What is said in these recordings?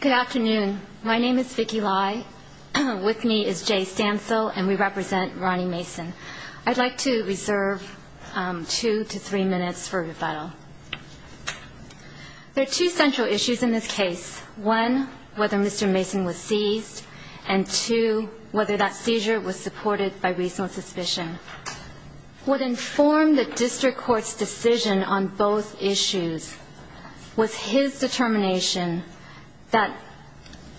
Good afternoon. My name is Vicky Lai. With me is Jay Stansel and we represent Ronnie Mason. I'd like to reserve two to three minutes for rebuttal. There are two central issues in this case. One, whether Mr. Mason was seized. And two, whether that seizure was supported by reasonable suspicion. What informed the district court's decision on both issues was his determination that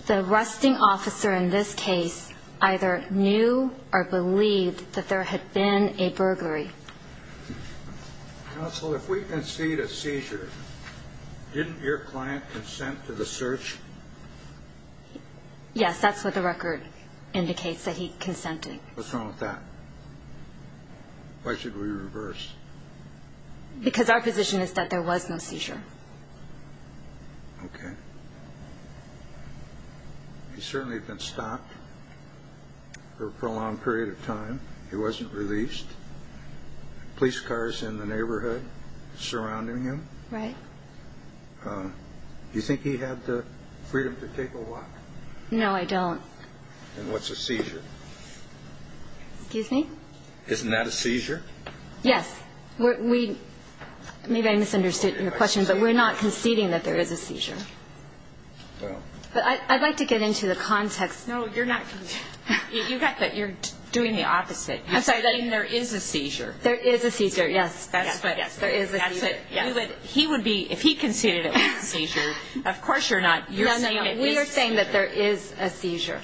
the arresting officer in this case either knew or believed that there had been a burglary. Counsel, if we concede a seizure, didn't your client consent to the search? Yes, that's what the record indicates, that he consented. What's wrong with that? Why should we reverse? Because our position is that there was no seizure. Okay. He's certainly been stopped for a prolonged period of time. He wasn't released. Police cars in the neighborhood surrounding him. Right. Do you think he had the freedom to take a walk? No, I don't. Then what's a seizure? Excuse me? Isn't that a seizure? Yes. Maybe I misunderstood your question, but we're not conceding that there is a seizure. I'd like to get into the context. No, you're not conceding. You're doing the opposite. You're saying there is a seizure. There is a seizure, yes. He would be, if he conceded it was a seizure, of course you're not. No, no, we are saying that there is a seizure.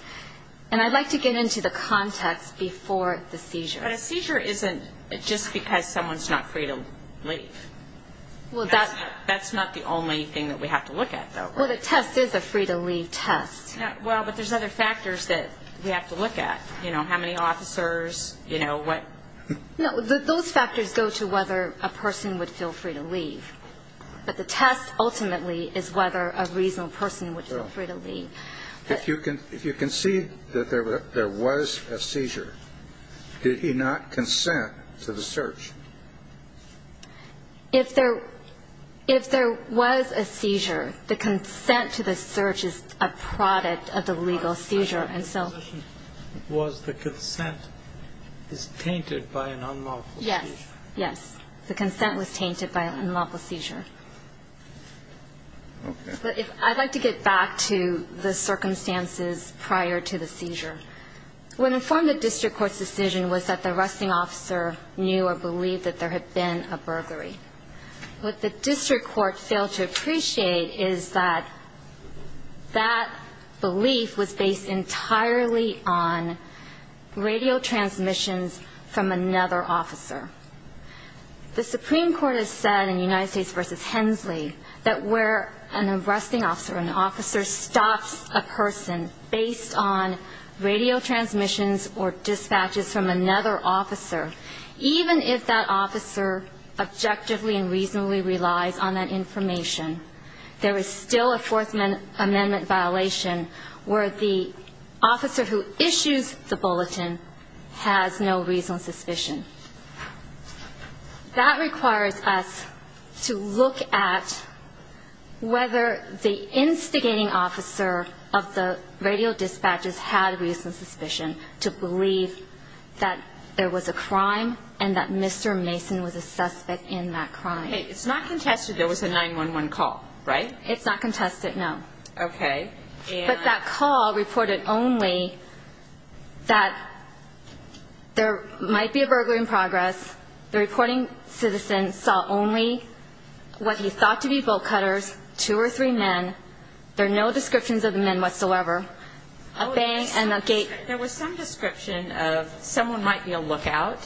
And I'd like to get into the context before the seizure. But a seizure isn't just because someone's not free to leave. Well, that's not the only thing that we have to look at, though, right? Well, the test is a free-to-leave test. Well, but there's other factors that we have to look at. You know, how many officers, you know, what? No, those factors go to whether a person would feel free to leave. But the test ultimately is whether a reasonable person would feel free to leave. If you concede that there was a seizure, did he not consent to the search? If there was a seizure, the consent to the search is a product of the legal seizure. Was the consent tainted by an unlawful seizure? Yes. Yes. The consent was tainted by an unlawful seizure. Okay. But I'd like to get back to the circumstances prior to the seizure. What informed the district court's decision was that the arresting officer knew or believed that there had been a burglary. What the district court failed to appreciate is that that belief was based entirely on radio transmissions from another officer. The Supreme Court has said in United States v. Hensley that where an arresting officer, an officer stops a person based on radio transmissions or dispatches from another officer, even if that officer objectively and reasonably relies on that information, there is still a Fourth Amendment violation where the officer who issues the bulletin has no reasonable suspicion. That requires us to look at whether the instigating officer of the radio dispatches had a reasonable suspicion to believe that there was a crime and that Mr. Mason was a suspect in that crime. Okay. It's not contested there was a 911 call, right? It's not contested, no. Okay. But that call reported only that there might be a burglary in progress. The reporting citizen saw only what he thought to be bolt cutters, two or three men. There are no descriptions of the men whatsoever. There was some description of someone might be a lookout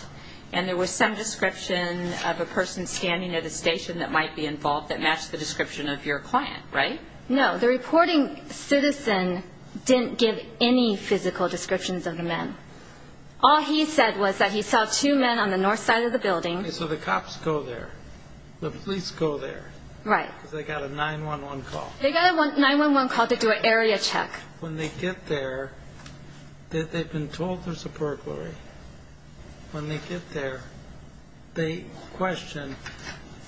and there was some description of a person standing at a station that might be involved that matched the description of your client, right? No. The reporting citizen didn't give any physical descriptions of the men. All he said was that he saw two men on the north side of the building. Okay. So the cops go there. The police go there. Right. Because they got a 911 call. They got a 911 call to do an area check. When they get there, they've been told there's a burglary. When they get there, they question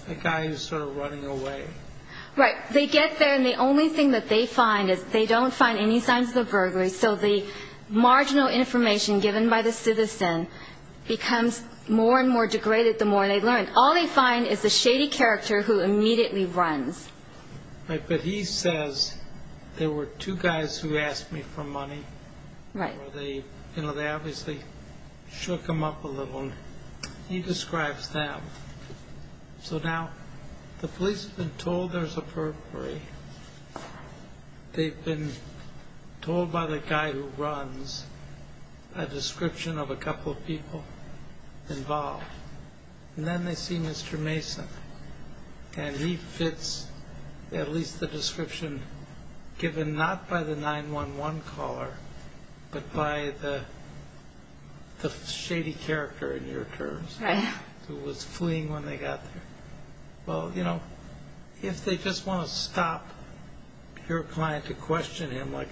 the guy who's sort of running away. Right. They get there and the only thing that they find is they don't find any signs of the burglary. So the marginal information given by the citizen becomes more and more degraded the more they learn. All they find is the shady character who immediately runs. Right. But he says, there were two guys who asked me for money. Right. They obviously shook him up a little. He describes them. So now the police have been told there's a burglary. They've been told by the guy who runs a description of a couple of people involved. And then they see Mr. Mason. And he fits at least the description given not by the 911 caller, but by the shady character in your terms. Right. Who was fleeing when they got there. Well, you know, if they just want to stop your client to question him like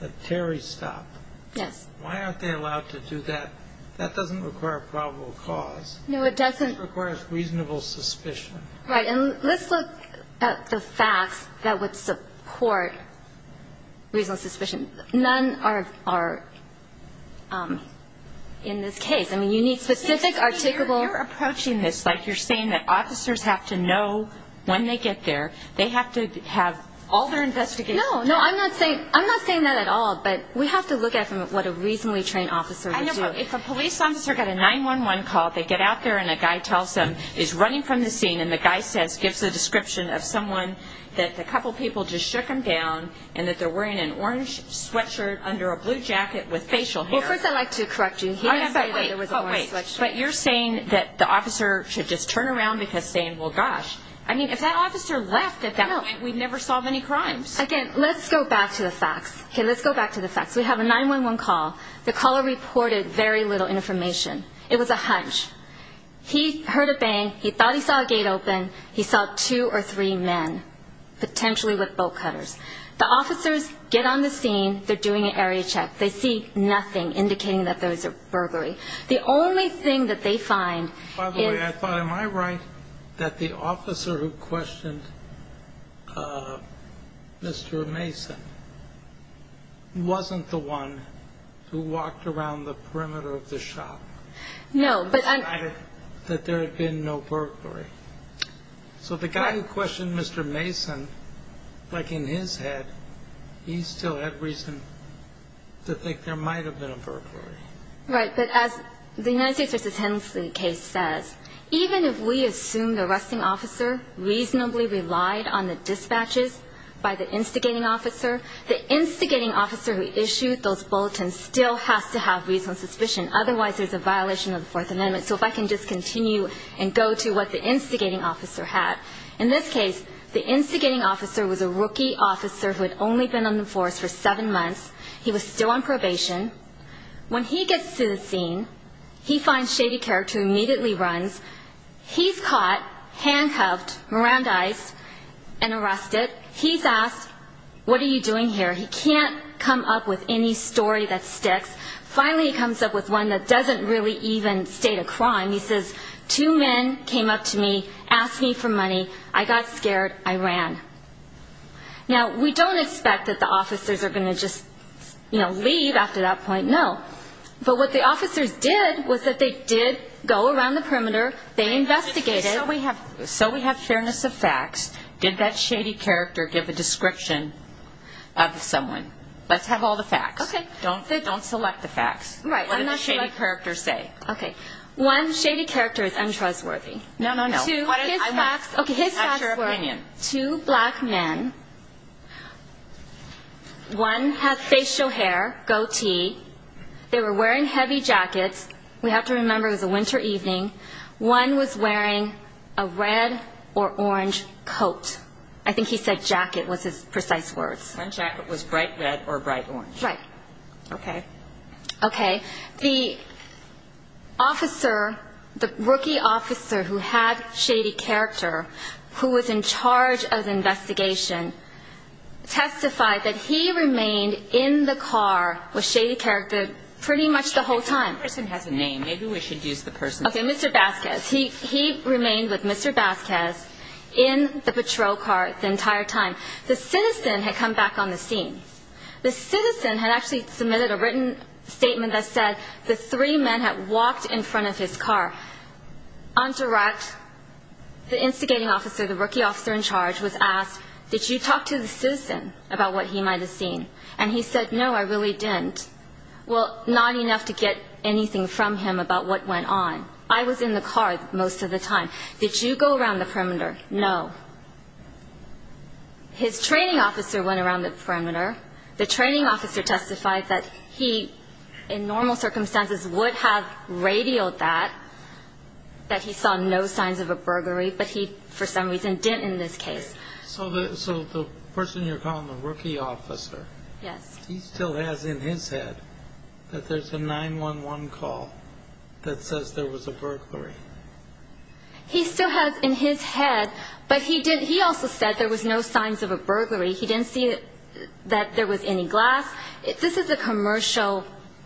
a Terry stop. Yes. Why aren't they allowed to do that? That doesn't require a probable cause. No, it doesn't. It requires reasonable suspicion. Right. And let's look at the facts that would support reasonable suspicion. None are in this case. I mean, you need specific, articulable. You're approaching this like you're saying that officers have to know when they get there. They have to have all their investigation. No, no, I'm not saying that at all. But we have to look at what a reasonably trained officer would do. I know, but if a police officer got a 911 call, they get out there, and a guy tells them he's running from the scene, and the guy gives the description of someone that a couple people just shook him down, and that they're wearing an orange sweatshirt under a blue jacket with facial hair. Well, first I'd like to correct you. He didn't say that there was an orange sweatshirt. But you're saying that the officer should just turn around because saying, well, gosh. I mean, if that officer left at that point, we'd never solve any crimes. Again, let's go back to the facts. Okay, let's go back to the facts. We have a 911 call. The caller reported very little information. It was a hunch. He heard a bang. He thought he saw a gate open. He saw two or three men, potentially with bolt cutters. The officers get on the scene. They're doing an area check. They see nothing indicating that there was a burglary. The only thing that they find is... By the way, I thought, am I right that the officer who questioned Mr. Mason wasn't the one who walked around the perimeter of the shop. No, but... So the guy who questioned Mr. Mason, like in his head, he still had reason to think there might have been a burglary. Right, but as the United States v. Hensley case says, even if we assume the arresting officer reasonably relied on the dispatches by the instigating officer, the instigating officer who issued those bulletins still has to have reasonable suspicion. Otherwise, there's a violation of the Fourth Amendment. So if I can just continue and go to what the instigating officer had. In this case, the instigating officer was a rookie officer who had only been on the force for seven months. He was still on probation. When he gets to the scene, he finds Shady Carrick, who immediately runs. He's caught, handcuffed, Mirandized, and arrested. He's asked, what are you doing here? He can't come up with any story that sticks. Finally, he comes up with one that doesn't really even state a crime. He says, two men came up to me, asked me for money. I got scared. I ran. Now, we don't expect that the officers are going to just leave after that point, no. But what the officers did was that they did go around the perimeter. They investigated. So we have fairness of facts. Did that Shady Carrick give a description of someone? Let's have all the facts. Okay. Don't select the facts. Right. What did the Shady Carrick say? Okay. One, Shady Carrick is untrustworthy. No, no, no. Two, his facts were two black men. One had facial hair, goatee. They were wearing heavy jackets. We have to remember it was a winter evening. One was wearing a red or orange coat. I think he said jacket was his precise words. One jacket was bright red or bright orange. Right. Okay. Okay. The officer, the rookie officer who had Shady Carrick, who was in charge of the investigation, testified that he remained in the car with Shady Carrick pretty much the whole time. That person has a name. Maybe we should use the person's name. Okay, Mr. Vasquez. He remained with Mr. Vasquez in the patrol car the entire time. The citizen had come back on the scene. The citizen had actually submitted a written statement that said the three men had walked in front of his car. On direct, the instigating officer, the rookie officer in charge, was asked, did you talk to the citizen about what he might have seen? And he said, no, I really didn't. Well, not enough to get anything from him about what went on. I was in the car most of the time. Did you go around the perimeter? No. His training officer went around the perimeter. The training officer testified that he, in normal circumstances, would have radioed that, that he saw no signs of a burglary, but he, for some reason, didn't in this case. Okay. So the person you're calling, the rookie officer. Yes. He still has in his head that there's a 911 call that says there was a burglary. He still has in his head, but he also said there was no signs of a burglary. He didn't see that there was any glass. This is a commercial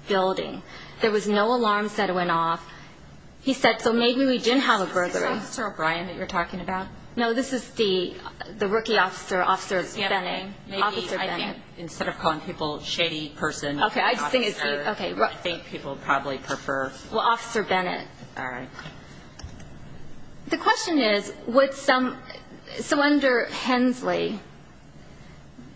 building. There was no alarms that went off. He said, so maybe we did have a burglary. Is this Officer O'Brien that you're talking about? No, this is the rookie officer, Officer Bennett. Maybe, I think, instead of calling people shady person, I think people probably prefer. Well, Officer Bennett. All right. The question is, would some, so under Hensley,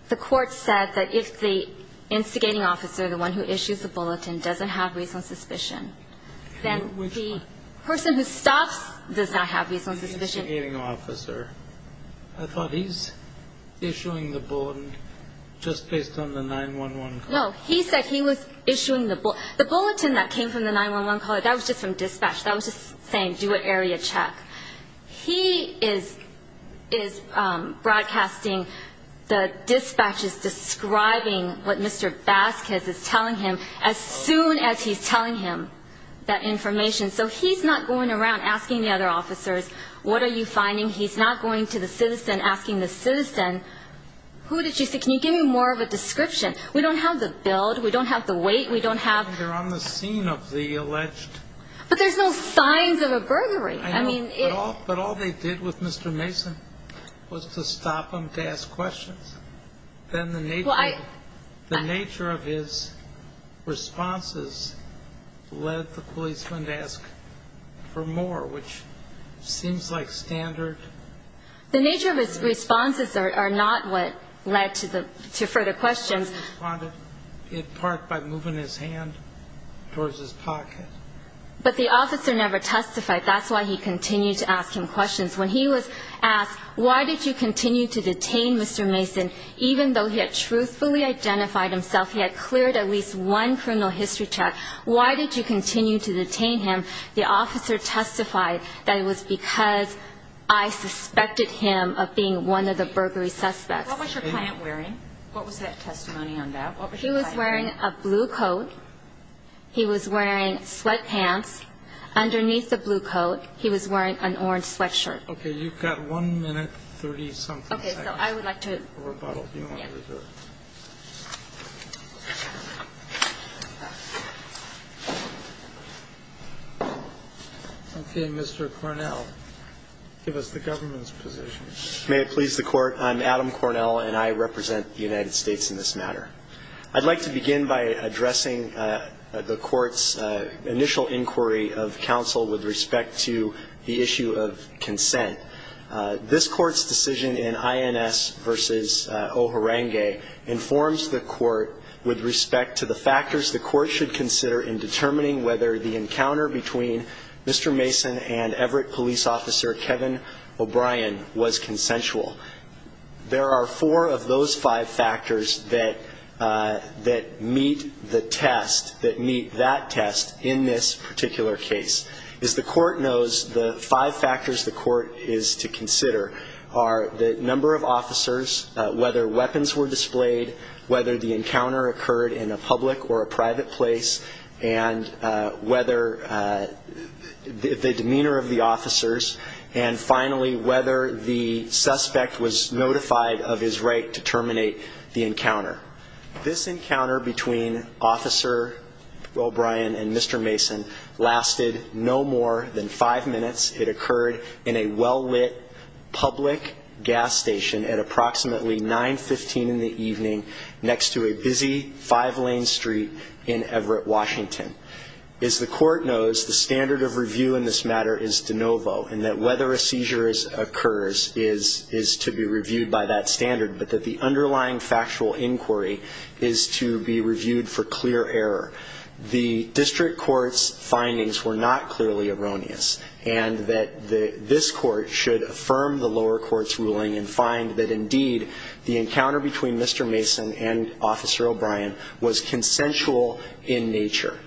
the court said that if the instigating officer, the one who issues the bulletin, doesn't have reasonable suspicion, then the person who stops does not have reasonable suspicion. The instigating officer. I thought he's issuing the bulletin just based on the 911 call. No, he said he was issuing the, the bulletin that came from the 911 call, but that was just from dispatch. That was just saying do an area check. He is, is broadcasting, the dispatch is describing what Mr. Vasquez is telling him as soon as he's telling him that information. So he's not going around asking the other officers, what are you finding? He's not going to the citizen asking the citizen, who did you see? Can you give me more of a description? We don't have the build. We don't have the weight. We don't have. They're on the scene of the alleged. But there's no signs of a burglary. I mean. But all they did with Mr. Mason was to stop him to ask questions. Then the nature of his responses led the policeman to ask for more, which seems like standard. The nature of his responses are not what led to the, to further questions. It part by moving his hand towards his pocket. But the officer never testified. That's why he continued to ask him questions. When he was asked, why did you continue to detain Mr. Mason? Even though he had truthfully identified himself, he had cleared at least one criminal history check. Why did you continue to detain him? The officer testified that it was because I suspected him of being one of the burglary suspects. What was your client wearing? What was that testimony on that? What was your client wearing? He was wearing a blue coat. He was wearing sweatpants. Underneath the blue coat, he was wearing an orange sweatshirt. Okay. You've got one minute, 30-something seconds. Okay. So I would like to. Okay. Mr. Cornell, give us the government's position. May it please the Court. I'm Adam Cornell, and I represent the United States in this matter. I'd like to begin by addressing the Court's initial inquiry of counsel with respect to the issue of consent. This Court's decision in INS v. O'Harenge informs the Court with respect to the factors the Court should consider in determining whether the encounter between Mr. Mason and Everett police officer Kevin O'Brien was consensual. There are four of those five factors that meet the test, that meet that test in this particular case. As the Court knows, the five factors the Court is to consider are the number of officers, whether weapons were displayed, whether the encounter occurred in a public or a private place, and whether the demeanor of the officers, and finally, whether the suspect was notified of his right to terminate the encounter. This encounter between Officer O'Brien and Mr. Mason lasted no more than five minutes. It occurred in a well-lit public gas station at approximately 915 in the evening next to a busy five-lane street in Everett, Washington. As the Court knows, the standard of review in this matter is de novo, and that whether a seizure occurs is to be reviewed by that standard, but that the underlying factual inquiry is to be reviewed for clear error. The district court's findings were not clearly erroneous, and that this Court should affirm the lower court's ruling and find that, indeed, the encounter between Mr. Mason and Officer O'Brien was consensual in nature.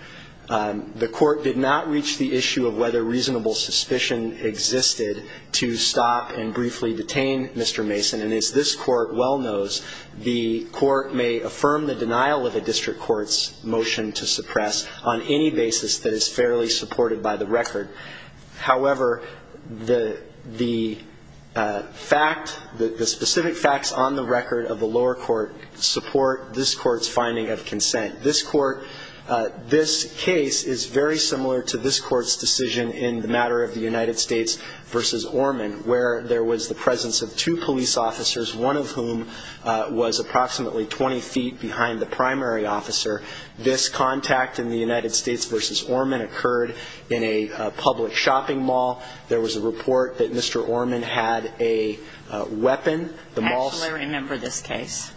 The Court did not reach the issue of whether reasonable suspicion existed to stop and briefly detain Mr. Mason, and as this Court well knows, the Court may affirm the denial of a district court's motion to suppress on any basis that is fairly supported by the record. However, the fact, the specific facts on the record of the lower court, support this Court's finding of consent. This Court, this case is very similar to this Court's decision in the matter of the United States versus Orman, where there was the presence of two police officers, one of whom was approximately 20 feet behind the primary officer. This contact in the United States versus Orman occurred in a public shopping mall. There was a report that Mr. Orman had a weapon. Actually, I remember this case.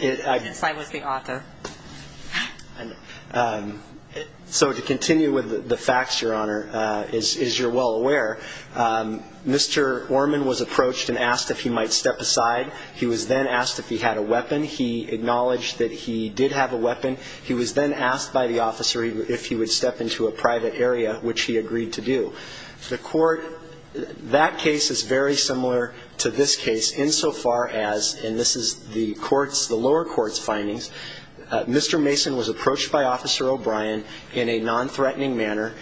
Yes, I was the author. So to continue with the facts, Your Honor, as you're well aware, Mr. Orman was approached and asked if he might step aside. He was then asked if he had a weapon. He acknowledged that he did have a weapon. He was then asked by the officer if he would step into a private area, which he agreed to do. The Court, that case is very similar to this case insofar as, and this is the lower court's findings, Mr. Mason was approached by Officer O'Brien in a nonthreatening manner.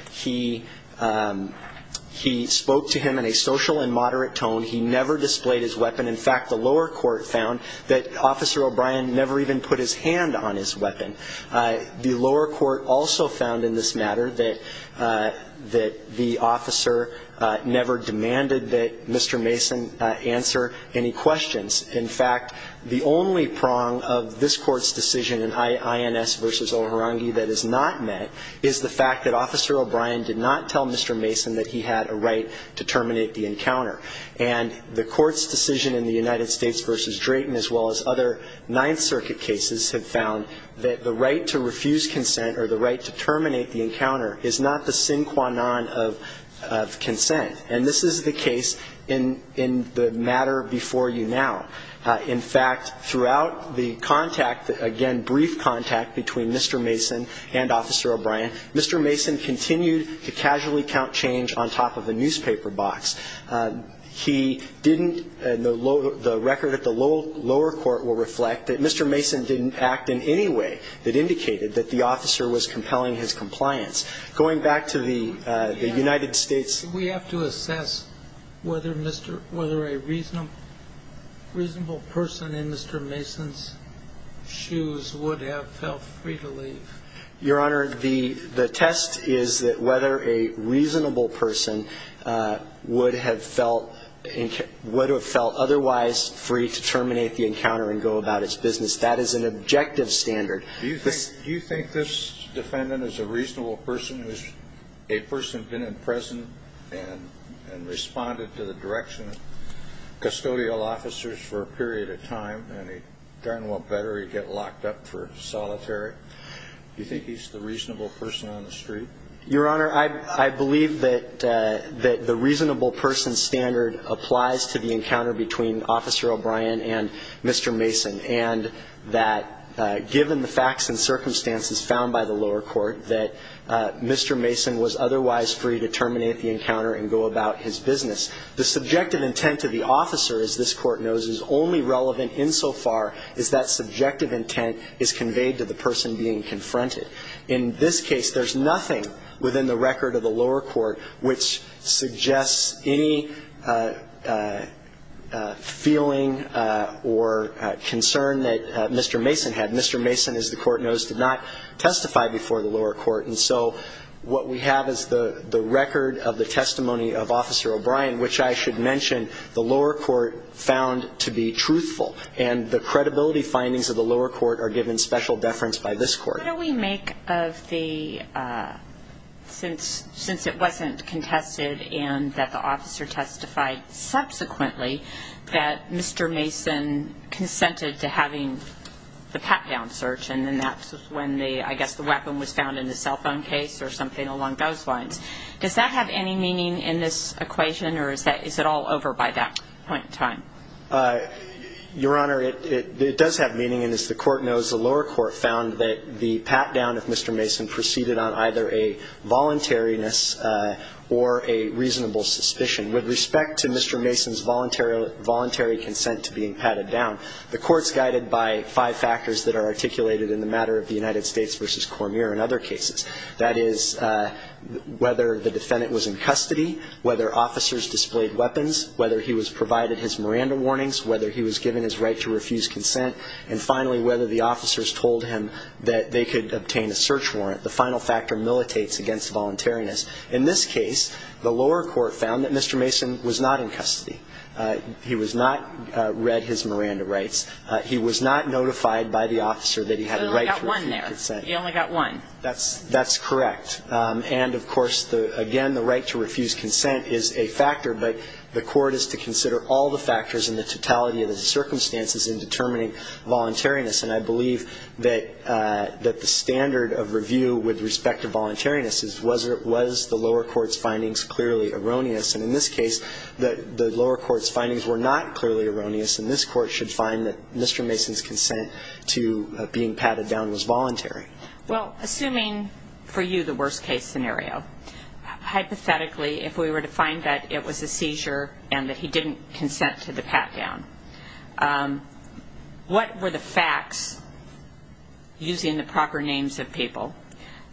He spoke to him in a social and moderate tone. He never displayed his weapon. In fact, the lower court found that Officer O'Brien never even put his hand on his weapon. The lower court also found in this matter that the officer never demanded that Mr. Mason answer any questions. In fact, the only prong of this Court's decision in INS v. O'Harangi that is not met is the fact that Officer O'Brien did not tell Mr. Mason that he had a right to terminate the encounter. And the Court's decision in the United States v. Drayton, as well as other Ninth Circuit cases, have found that the right to refuse consent or the right to terminate the encounter is not the sine qua non of consent. And this is the case in the matter before you now. In fact, throughout the contact, again, brief contact between Mr. Mason and Officer O'Brien, Mr. Mason continued to casually count change on top of a newspaper box. He didn't, the record at the lower court will reflect that Mr. Mason didn't act in any way that indicated that the officer was compelling his compliance. Going back to the United States. We have to assess whether a reasonable person in Mr. Mason's shoes would have felt free to leave. Your Honor, the test is whether a reasonable person would have felt otherwise free to terminate the encounter and go about its business. That is an objective standard. Do you think this defendant is a reasonable person who's a person who's been in prison and responded to the direction of custodial officers for a period of time, and he darn well better get locked up for solitary? Do you think he's the reasonable person on the street? Your Honor, I believe that the reasonable person standard applies to the encounter between Officer O'Brien and Mr. Mason, and that given the facts and circumstances found by the lower court, that Mr. Mason was otherwise free to terminate the encounter and go about his business. The subjective intent of the officer, as this court knows, is only relevant insofar as that subjective intent is conveyed to the person being confronted. In this case, there's nothing within the record of the lower court which suggests any feeling or concern that Mr. Mason had. Mr. Mason, as the court knows, did not testify before the lower court. And so what we have is the record of the testimony of Officer O'Brien, which I should mention the lower court found to be truthful, and the credibility findings of the lower court are given special deference by this court. What do we make of the, since it wasn't contested and that the officer testified subsequently, that Mr. Mason consented to having the pat-down search and that's when I guess the weapon was found in the cell phone case or something along those lines. Does that have any meaning in this equation, or is it all over by that point in time? Your Honor, it does have meaning, and as the court knows, the lower court found that the pat-down of Mr. Mason proceeded on either a voluntariness or a reasonable suspicion. With respect to Mr. Mason's voluntary consent to being patted down, the court's guided by five factors that are articulated in the matter of the United States v. Cormier and other cases. That is, whether the defendant was in custody, whether officers displayed weapons, whether he was provided his Miranda warnings, whether he was given his right to refuse consent, and finally whether the officers told him that they could obtain a search warrant. The final factor militates against voluntariness. In this case, the lower court found that Mr. Mason was not in custody. He was not read his Miranda rights. He was not notified by the officer that he had a right to refuse consent. So he only got one there. He only got one. That's correct. And, of course, again, the right to refuse consent is a factor, but the court is to consider all the factors and the totality of the circumstances in determining voluntariness. And I believe that the standard of review with respect to voluntariness is, was the lower court's findings clearly erroneous? And in this case, the lower court's findings were not clearly erroneous, and this court should find that Mr. Mason's consent to being patted down was voluntary. Well, assuming for you the worst-case scenario, hypothetically, if we were to find that it was a seizure and that he didn't consent to the pat-down, what were the facts, using the proper names of people,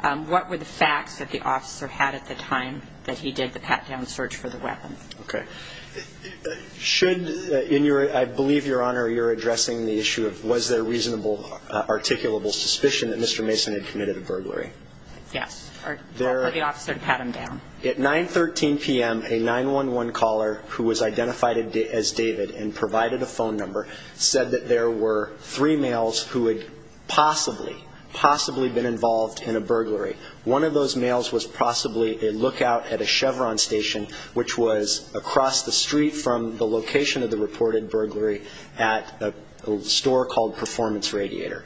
what were the facts that the officer had at the time that he did the pat-down search for the weapon? Okay. Should, in your, I believe, Your Honor, you're addressing the issue of was there reasonable articulable suspicion that Mr. Mason had committed a burglary? Yes. Or for the officer to pat him down. At 9.13 p.m., a 911 caller who was identified as David and provided a phone number said that there were three males who had possibly, possibly been involved in a burglary. One of those males was possibly a lookout at a Chevron station, which was across the street from the location of the reported burglary at a store called Performance Radiator.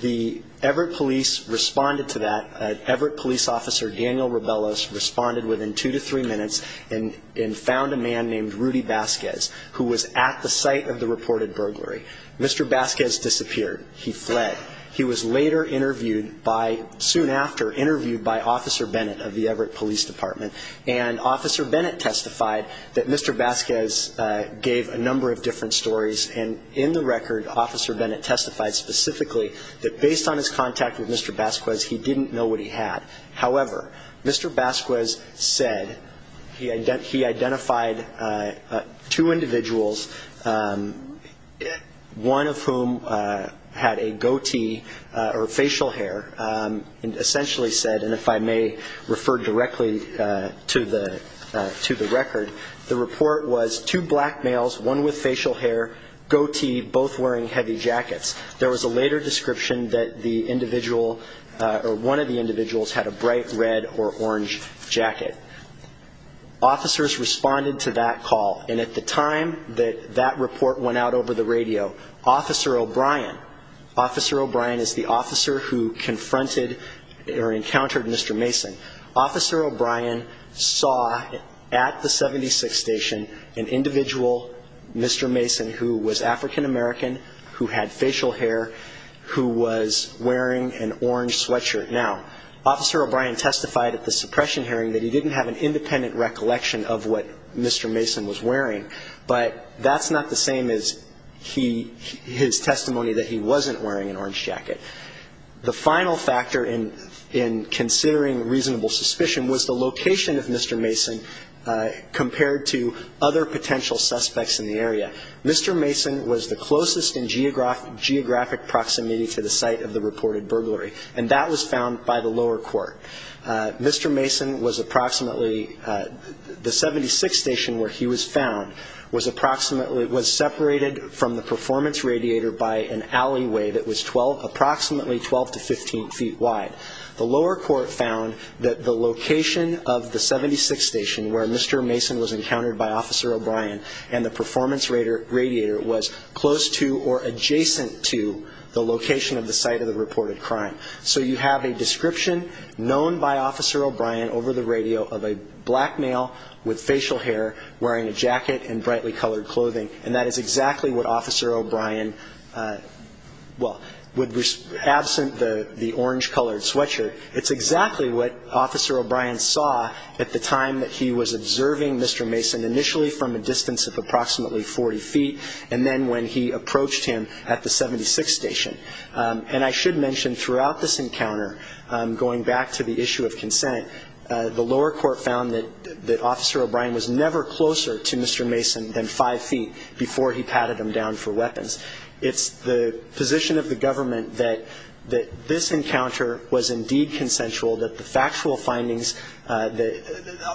The Everett Police responded to that. Everett Police Officer Daniel Rebellos responded within two to three minutes and found a man named Rudy Vasquez, who was at the site of the reported burglary. Mr. Vasquez disappeared. He fled. He was later interviewed by, soon after, interviewed by Officer Bennett of the Everett Police Department, and Officer Bennett testified that Mr. Vasquez gave a number of different stories, and in the record, Officer Bennett testified specifically that based on his contact with Mr. Vasquez, he didn't know what he had. However, Mr. Vasquez said he identified two individuals, one of whom had a goatee or facial hair, and essentially said, and if I may refer directly to the record, the report was two black males, one with facial hair, goatee, both wearing heavy jackets. There was a later description that the individual or one of the individuals had a bright red or orange jacket. Officers responded to that call, and at the time that that report went out over the radio, Officer O'Brien, Officer O'Brien is the officer who confronted or encountered Mr. Mason. Officer O'Brien saw at the 76 station an individual, Mr. Mason, who was African American, who had facial hair, who was wearing an orange sweatshirt. Now, Officer O'Brien testified at the suppression hearing that he didn't have an independent recollection of what Mr. Mason was wearing, but that's not the same as his testimony that he wasn't wearing an orange jacket. The final factor in considering reasonable suspicion was the location of Mr. Mason compared to other potential suspects in the area. Mr. Mason was the closest in geographic proximity to the site of the reported burglary, and that was found by the lower court. Mr. Mason was approximately, the 76 station where he was found was approximately, was separated from the performance radiator by an alleyway that was approximately 12 to 15 feet wide. The lower court found that the location of the 76 station where Mr. Mason was encountered by Officer O'Brien and the performance radiator was close to or adjacent to the location of the site of the reported crime. So you have a description known by Officer O'Brien over the radio of a black male with facial hair wearing a jacket and brightly colored clothing, and that is exactly what Officer O'Brien, well, absent the orange colored sweatshirt, it's exactly what Officer O'Brien saw at the time that he was observing Mr. Mason, initially from a distance of approximately 40 feet, and then when he approached him at the 76 station. And I should mention throughout this encounter, going back to the issue of consent, the lower court found that Officer O'Brien was never closer to Mr. Mason than five feet before he patted him down for weapons. It's the position of the government that this encounter was indeed consensual, that the factual findings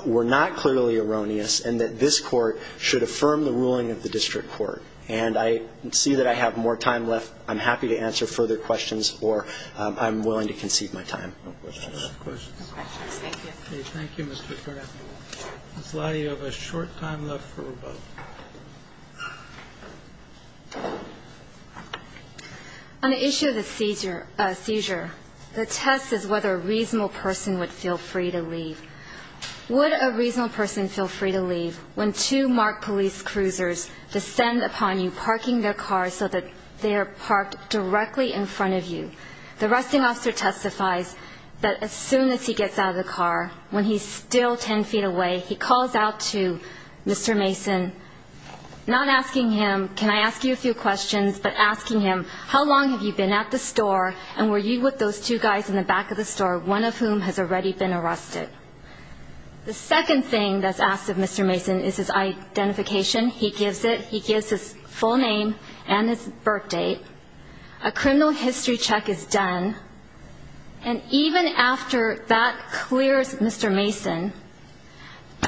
were not clearly erroneous, and that this court should affirm the ruling of the district court. And I see that I have more time left. I'm happy to answer further questions, or I'm willing to concede my time. No questions. Thank you. Thank you, Mr. Carter. Ms. Lottie, you have a short time left for rebuttal. On the issue of the seizure, the test is whether a reasonable person would feel free to leave. Would a reasonable person feel free to leave when two marked police cruisers descend upon you, parking their cars so that they are parked directly in front of you? The arresting officer testifies that as soon as he gets out of the car, when he's still ten feet away, he calls out to Mr. Mason, not asking him, can I ask you a few questions, but asking him, how long have you been at the store, and were you with those two guys in the back of the store, one of whom has already been arrested? The second thing that's asked of Mr. Mason is his identification. He gives it. He gives his full name and his birth date. A criminal history check is done, and even after that clears Mr. Mason,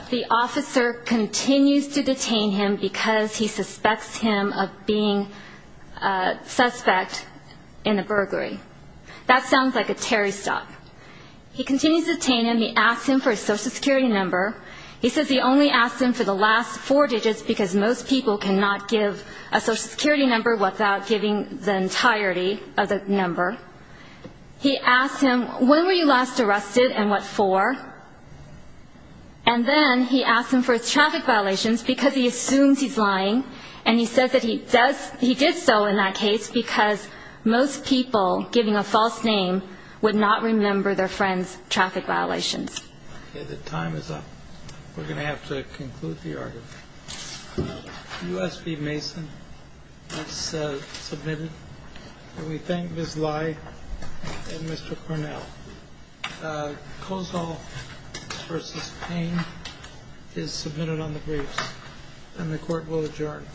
the officer continues to detain him because he suspects him of being a suspect in a burglary. That sounds like a Terry stop. He continues to detain him. He asks him for his Social Security number. He says he only asks him for the last four digits because most people cannot give a Social Security number without giving the entirety of the number. He asks him, when were you last arrested and what for? And then he asks him for his traffic violations because he assumes he's lying, and he says that he did so in that case because most people giving a false name would not remember their friend's traffic violations. Okay. The time is up. We're going to have to conclude the argument. U.S. v. Mason, that's submitted. And we thank Ms. Lai and Mr. Cornell. Kozol v. Payne is submitted on the briefs, and the Court will adjourn.